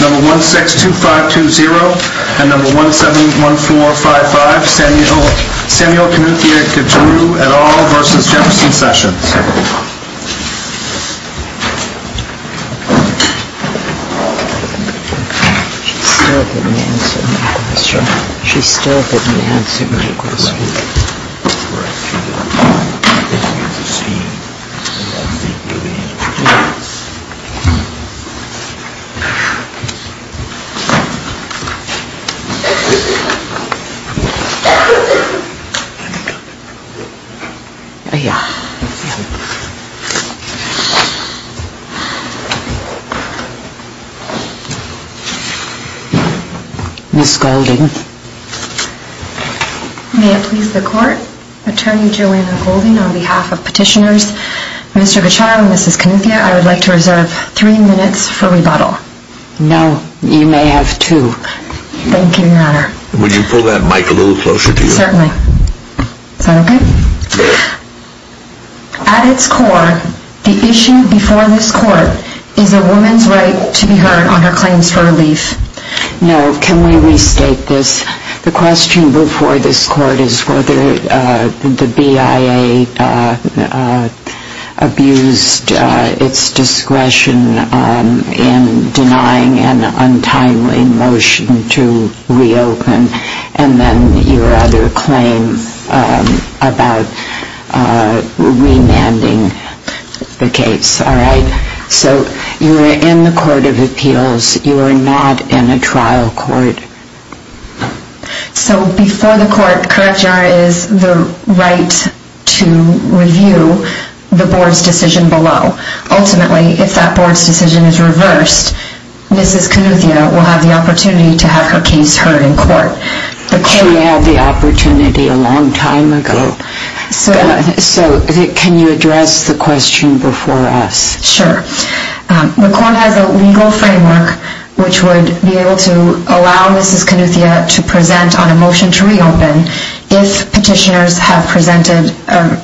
No. 162520 and No. 171455, Samuel Kanuthia Gicharu et al. v. Jefferson Sessions May it please the Court, Attorney Joanna Golding, on behalf of Petitioners Mr. Gicharu and Mrs. Kanuthia, I would like to reserve three minutes for rebuttal. No. You may have two. Thank you, Your Honor. Would you pull that mic a little closer to you? Certainly. Is that okay? Yes. At its core, the issue before this Court is a woman's right to be heard on her claims for relief. Now, can we restate this? The question before this Court is whether the BIA abused its discretion in denying an untimely motion to reopen and then your other claim about remanding the case. Yes. All right. So you are in the Court of Appeals. You are not in a trial court. So before the Court, correct, Your Honor, is the right to review the Board's decision below. Ultimately, if that Board's decision is reversed, Mrs. Kanuthia will have the opportunity to have her case heard in court. She had the opportunity a long time ago. So can you address the question before us? Sure. The Court has a legal framework which would be able to allow Mrs. Kanuthia to present on a motion to reopen if petitioners have presented a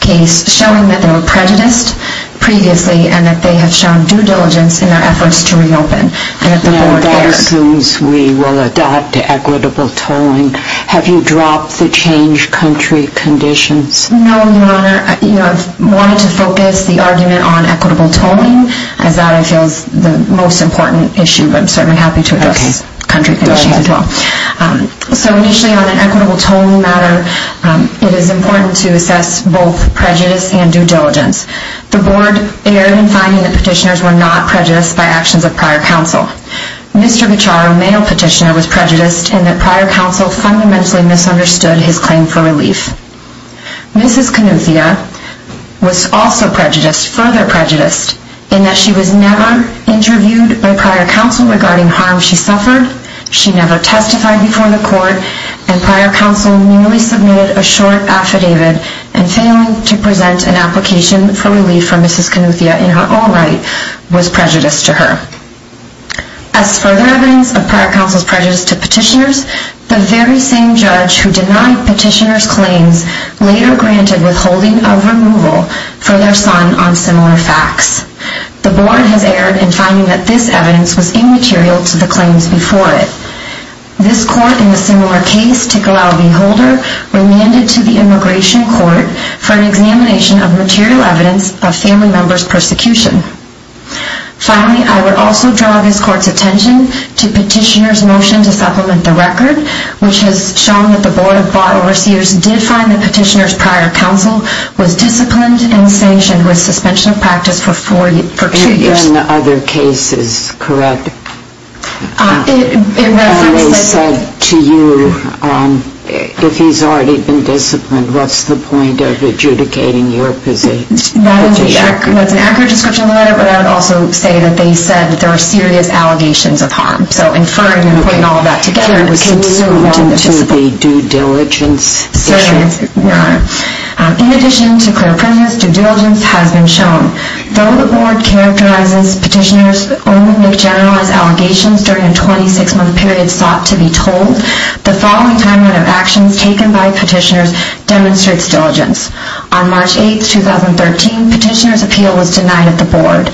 case showing that they were prejudiced previously and that they have shown due diligence in their efforts to reopen. Now, that assumes we will adopt equitable tolling. Have you dropped the change country conditions? No, Your Honor. I wanted to focus the argument on equitable tolling as that I feel is the most important issue, but I'm certainly happy to address country conditions as well. So initially on an equitable tolling matter, it is important to assess both prejudice and due diligence. The Board erred in finding that petitioners were not prejudiced by actions of prior counsel. Mr. Bichar, a male petitioner, was prejudiced in that prior counsel fundamentally misunderstood his claim for relief. Mrs. Kanuthia was also prejudiced, further prejudiced, in that she was never interviewed by prior counsel regarding harm she suffered. She never testified before the Court, and prior counsel merely submitted a short affidavit and failing to present an application for relief for Mrs. Kanuthia in her own right was prejudice to her. As further evidence of prior counsel's prejudice to petitioners, the very same judge who denied petitioners' claims later granted withholding of removal for their son on similar facts. The Board has erred in finding that this evidence was immaterial to the claims before it. This Court, in a similar case, Tickle Albee Holder, remanded to the Immigration Court for an examination of material evidence of family members' persecution. Finally, I would also draw this Court's attention to Petitioner's motion to supplement the record, which has shown that the Board of Bar Overseers did find that Petitioner's prior counsel was disciplined and sanctioned with suspension of practice for two years. And in other cases, correct? It rather was said to you, if he's already been disciplined, what's the point of adjudicating your petition? That's an accurate description of the letter, but I would also say that they said that there were serious allegations of harm. So inferring and putting all of that together was considered wrong to participate. In addition to clear prejudice, due diligence has been shown. Though the Board characterizes petitioners only to generalize allegations during a 26-month period sought to be told, the following timeline of actions taken by petitioners demonstrates diligence. On March 8, 2013, Petitioner's appeal was denied at the Board.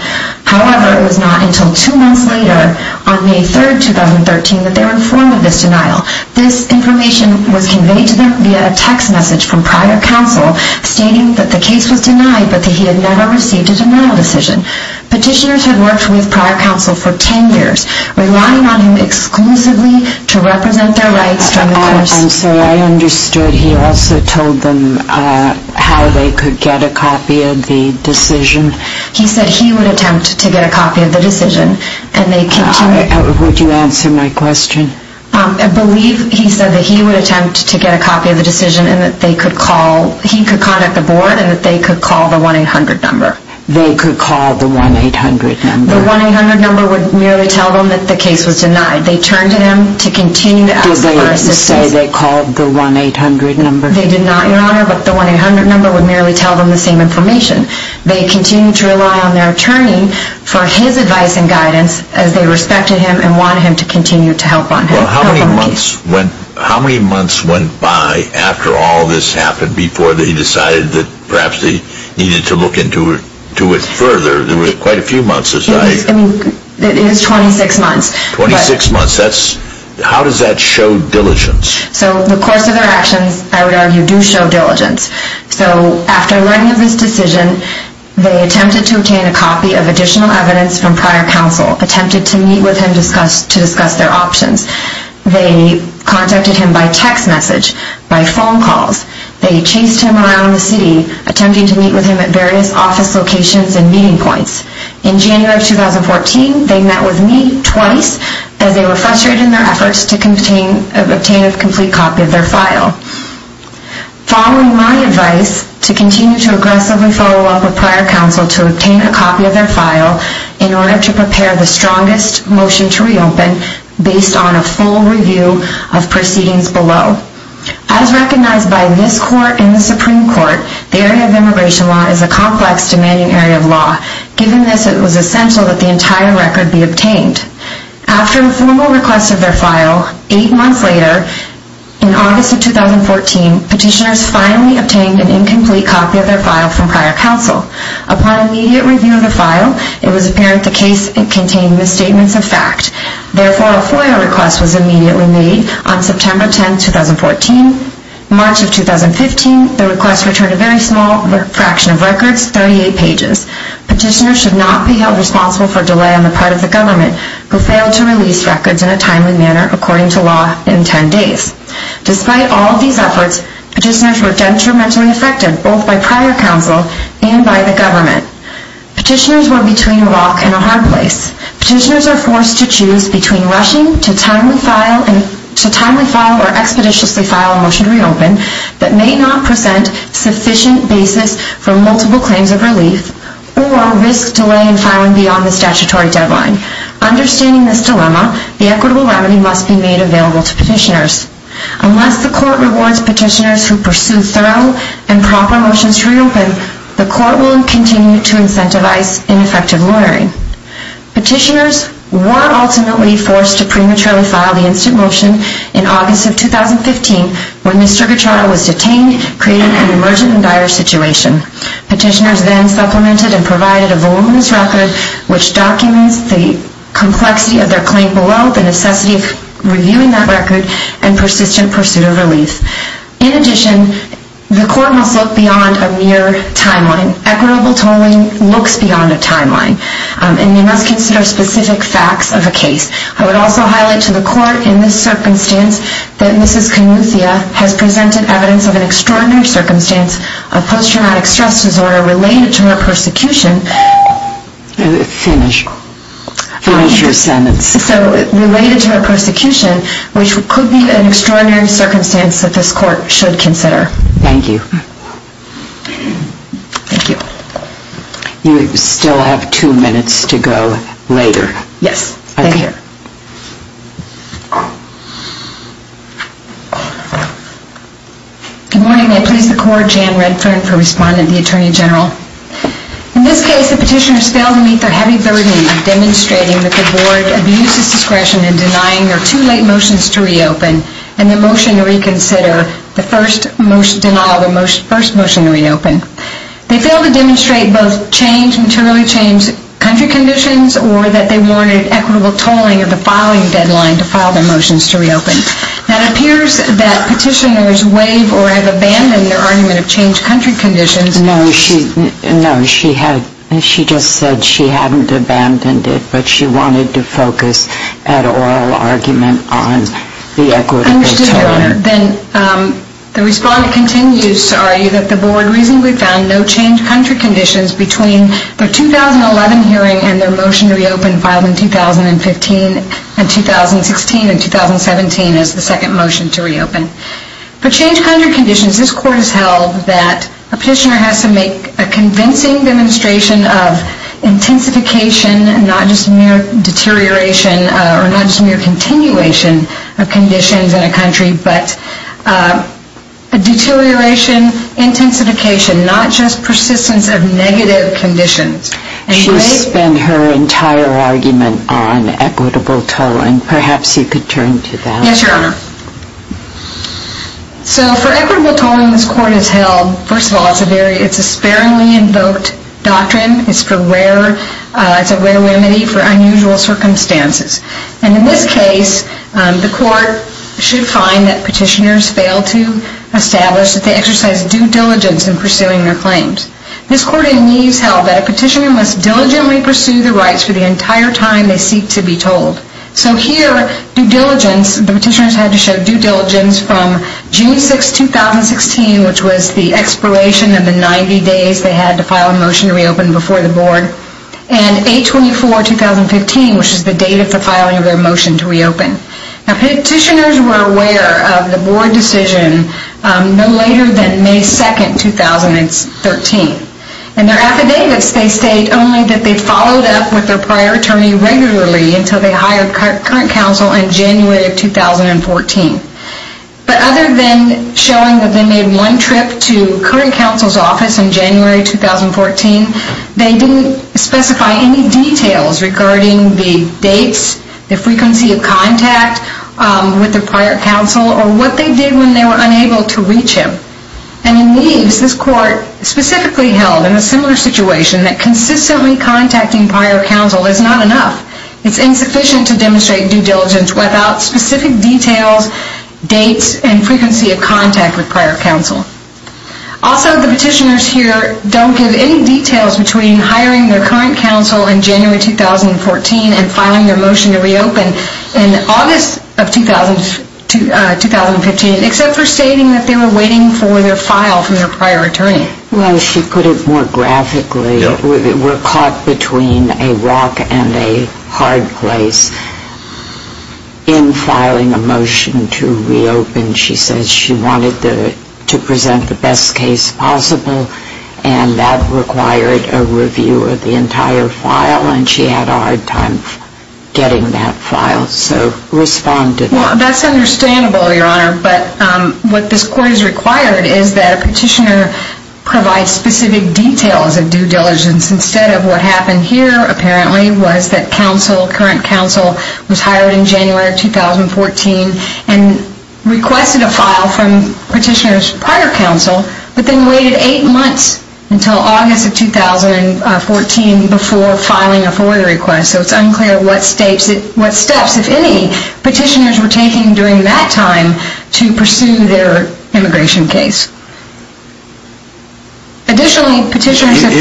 However, it was not until two months later, on May 3, 2013, that they were informed of this denial. This information was conveyed to them via a text message from prior counsel stating that the case was denied but that he had never received a denial decision. Petitioners had worked with prior counsel for 10 years, relying on him exclusively to represent their rights during the course. I'm sorry, I understood he also told them how they could get a copy of the decision. He said he would attempt to get a copy of the decision. Would you answer my question? I believe he said that he would attempt to get a copy of the decision and that they could call, he could contact the Board and that they could call the 1-800 number. They could call the 1-800 number? The 1-800 number would merely tell them that the case was denied. They turned to him to continue to ask for assistance. Did they say they called the 1-800 number? They did not, Your Honor, but the 1-800 number would merely tell them the same information. They continued to rely on their attorney for his advice and guidance as they respected him and wanted him to continue to help on the case. Well, how many months went by after all this happened before they decided that perhaps they needed to look into it further? There were quite a few months aside. It was 26 months. 26 months. How does that show diligence? So the course of their actions, I would argue, do show diligence. So after learning of this decision, they attempted to obtain a copy of additional evidence from prior counsel, attempted to meet with him to discuss their options. They contacted him by text message, by phone calls. They chased him around the city, attempting to meet with him at various office locations and meeting points. In January of 2014, they met with me twice as they were frustrated in their efforts to obtain a complete copy of their file. Following my advice to continue to aggressively follow up with prior counsel to obtain a copy of their file in order to prepare the strongest motion to reopen based on a full review of proceedings below. As recognized by this court and the Supreme Court, the area of immigration law is a complex, demanding area of law. Given this, it was essential that the entire record be obtained. After a formal request of their file, eight months later, in August of 2014, petitioners finally obtained an incomplete copy of their file from prior counsel. Upon immediate review of the file, it was apparent the case contained misstatements of fact. Therefore, a FOIA request was immediately made on September 10, 2014. In March of 2015, the request returned a very small fraction of records, 38 pages. Petitioners should not be held responsible for delay on the part of the government who failed to release records in a timely manner according to law in 10 days. Despite all of these efforts, petitioners were detrimentally affected both by prior counsel and by the government. Petitioners were between a rock and a hard place. Petitioners are forced to choose between rushing to timely file or expeditiously file a motion to reopen that may not present sufficient basis for multiple claims of relief or risk delay in filing beyond the statutory deadline. Understanding this dilemma, the equitable remedy must be made available to petitioners. Unless the court rewards petitioners who pursue thorough and proper motions to reopen, the court will continue to incentivize ineffective lawyering. Petitioners were ultimately forced to prematurely file the instant motion in August of 2015 when the Stricker trial was detained, creating an emergent and dire situation. Petitioners then supplemented and provided a voluminous record which documents the complexity of their claim below, the necessity of reviewing that record, and persistent pursuit of relief. In addition, the court must look beyond a mere timeline. An equitable tolling looks beyond a timeline. And you must consider specific facts of a case. I would also highlight to the court in this circumstance that Mrs. Canuthia has presented evidence of an extraordinary circumstance of post-traumatic stress disorder related to her persecution. Finish. Finish your sentence. Related to her persecution, which could be an extraordinary circumstance that this court should consider. Thank you. Thank you. You still have two minutes to go later. Yes. Thank you. Good morning. I please the court, Jan Redfern, for responding to the Attorney General. In this case, the petitioners failed to meet their heavy burden of demonstrating that the board abuses discretion in denying their two late motions to reopen, and their motion to reconsider, the first motion, denial of the first motion to reopen. They failed to demonstrate both change, materially changed country conditions, or that they wanted equitable tolling of the following deadline to file their motions to reopen. Now it appears that petitioners waive or have abandoned their argument of changed country conditions. No, she, no, she had, she just said she hadn't abandoned it, but she wanted to focus an oral argument on the equitable tolling. Understood, Your Honor. Then the respondent continues to argue that the board reasonably found no changed country conditions between the 2011 hearing and their motion to reopen filed in 2015, and 2016, and 2017 as the second motion to reopen. For changed country conditions, this court has held that a petitioner has to make a convincing demonstration of intensification, not just mere deterioration, or not just mere continuation of conditions in a country, but a deterioration, intensification, not just persistence of negative conditions. She has spent her entire argument on equitable tolling. Perhaps you could turn to that. Yes, Your Honor. So for equitable tolling, this court has held, first of all, it's a very, it's a sparingly invoked doctrine. It's for rare, it's a rare remedy for unusual circumstances. And in this case, the court should find that petitioners fail to establish that they exercise due diligence in pursuing their claims. This court in Neves held that a petitioner must diligently pursue the rights for the entire time they seek to be told. So here, due diligence, the petitioners had to show due diligence from June 6, 2016, which was the expiration of the 90 days they had to file a motion to reopen before the board, and 8-24-2015, which is the date of the filing of their motion to reopen. Now, petitioners were aware of the board decision no later than May 2, 2013. In their affidavits, they state only that they followed up with their prior attorney regularly until they hired current counsel in January of 2014. But other than showing that they made one trip to current counsel's office in January 2014, they didn't specify any details regarding the dates, the frequency of contact with their prior counsel, or what they did when they were unable to reach him. And in Neves, this court specifically held in a similar situation that consistently contacting prior counsel is not enough. It's insufficient to demonstrate due diligence without specific details, dates, and frequency of contact with prior counsel. Also, the petitioners here don't give any details between hiring their current counsel in January 2014 and filing their motion to reopen in August of 2015, except for stating that they were waiting for their file from their prior attorney. Well, she put it more graphically. We're caught between a rock and a hard place. In filing a motion to reopen, she says she wanted to present the best case possible, and that required a review of the entire file, and she had a hard time getting that file. So respond to that. Well, that's understandable, Your Honor. But what this court has required is that a petitioner provide specific details of due diligence instead of what happened here, apparently, was that counsel, current counsel, was hired in January 2014 and requested a file from petitioner's prior counsel, but then waited eight months until August of 2014 before filing a FOIA request, so it's unclear what steps, if any, petitioners were taking during that time to pursue their immigration case. Additionally, petitioners have to...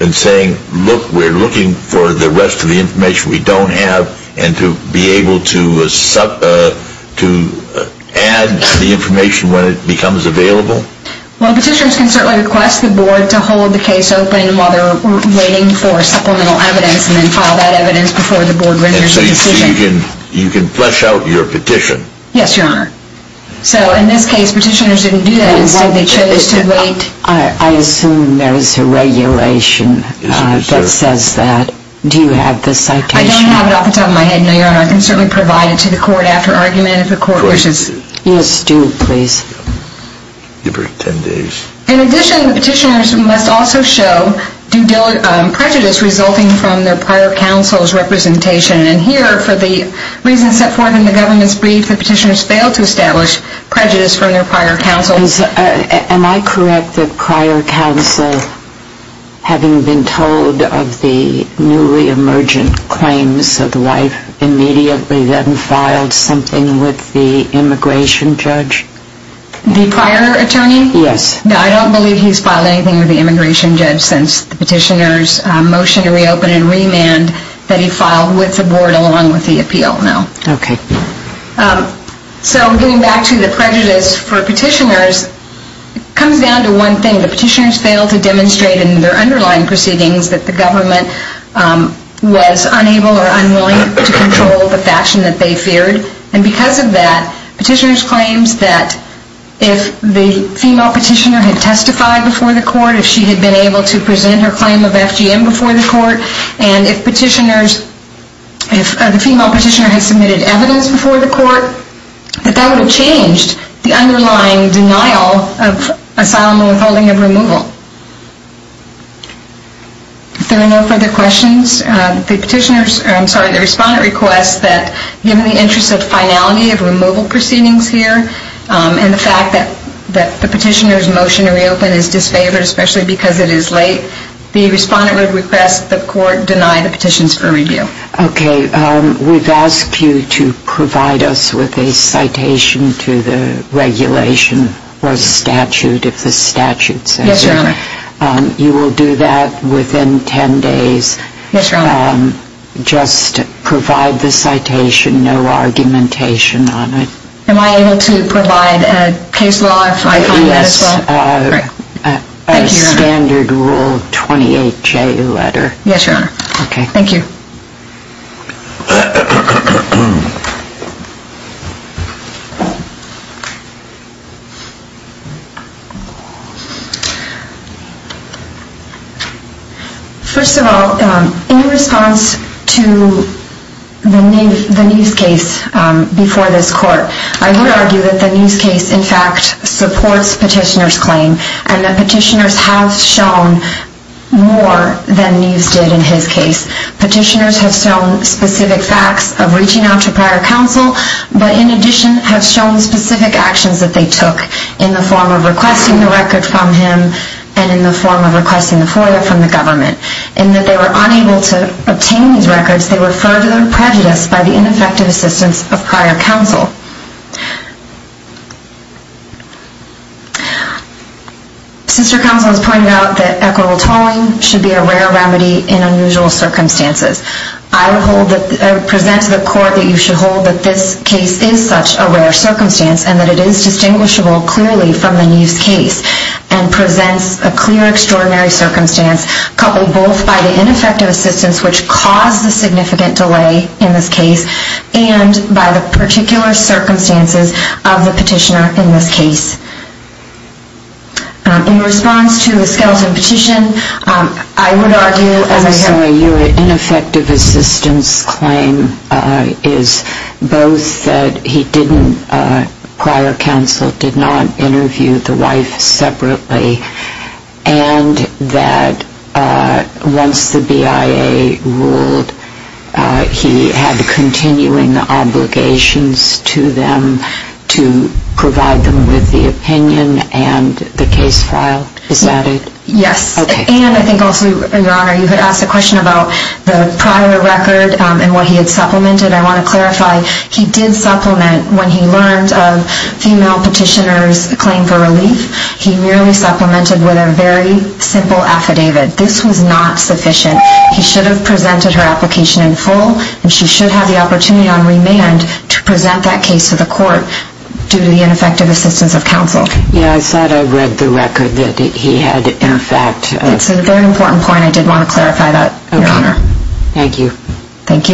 and saying, look, we're looking for the rest of the information we don't have and to be able to add the information when it becomes available? Well, petitioners can certainly request the board to hold the case open while they're waiting for supplemental evidence and then file that evidence before the board renders a decision. And so you can flesh out your petition? Yes, Your Honor. So in this case, petitioners didn't do that. Instead, they chose to wait... I assume there is a regulation that says that. Do you have the citation? I don't have it off the top of my head, No, Your Honor. I can certainly provide it to the court after argument if the court wishes. Yes, do, please. Give her 10 days. In addition, petitioners must also show due diligence, prejudice resulting from their prior counsel's representation. And here, for the reasons set forth in the government's brief, the petitioners failed to establish prejudice from their prior counsel. Am I correct that prior counsel, having been told of the newly emergent claims of the wife, immediately then filed something with the immigration judge? The prior attorney? Yes. No, I don't believe he's filed anything with the immigration judge since the petitioner's motion to reopen and remand that he filed with the board along with the appeal, no. Okay. So getting back to the prejudice for petitioners, it comes down to one thing. The petitioners failed to demonstrate in their underlying proceedings that the government was unable or unwilling to control the faction that they feared. And because of that, petitioners' claims that if the female petitioner had testified before the court, if she had been able to present her claim of FGM before the court, and if the female petitioner had submitted evidence before the court, that that would have changed the underlying denial of asylum and withholding of removal. If there are no further questions, the respondent requests that, given the interest of finality of removal proceedings here, and the fact that the petitioner's motion to reopen is disfavored, especially because it is late, the respondent would request that the court deny the petitions for review. Okay. We've asked you to provide us with a citation to the regulation or statute, if the statute says it. Yes, Your Honor. You will do that within 10 days. Yes, Your Honor. Just provide the citation, no argumentation on it. Am I able to provide a case law if I find that as well? A standard Rule 28J letter. Yes, Your Honor. Okay. Thank you. First of all, in response to the Neves case before this court, I would argue that the Neves case, in fact, supports petitioner's claim, and that petitioners have shown more than Neves did in his case. Petitioners have shown specific facts of reaching out to prior counsel, but in addition have shown specific actions that they took in the form of requesting the record from him and in the form of requesting the FOIA from the government. In that they were unable to obtain these records, they were further prejudiced by the ineffective assistance of prior counsel. Since your counsel has pointed out that equitable tolling should be a rare remedy in unusual circumstances, I would present to the court that you should hold that this case is such a rare circumstance and that it is distinguishable clearly from the Neves case and presents a clear extraordinary circumstance, coupled both by the ineffective assistance which caused the significant delay in this case and by the particular circumstances of the petitioner in this case. In response to the Skelton petition, I would argue, as I have... I'm sorry. Your ineffective assistance claim is both that he didn't, prior counsel did not interview the wife separately and that once the BIA ruled, he had continuing obligations to them to provide them with the opinion and the case file. Is that it? Yes. Okay. And I think also, Your Honor, you had asked a question about the prior record and what he had supplemented. I want to clarify, he did supplement when he learned of female petitioners' claim for relief. He merely supplemented with a very simple affidavit. This was not sufficient. He should have presented her application in full and she should have the opportunity on remand to present that case to the court due to the ineffective assistance of counsel. Yeah, I thought I read the record that he had in fact... It's a very important point. I did want to clarify that, Your Honor. Okay. Thank you. Thank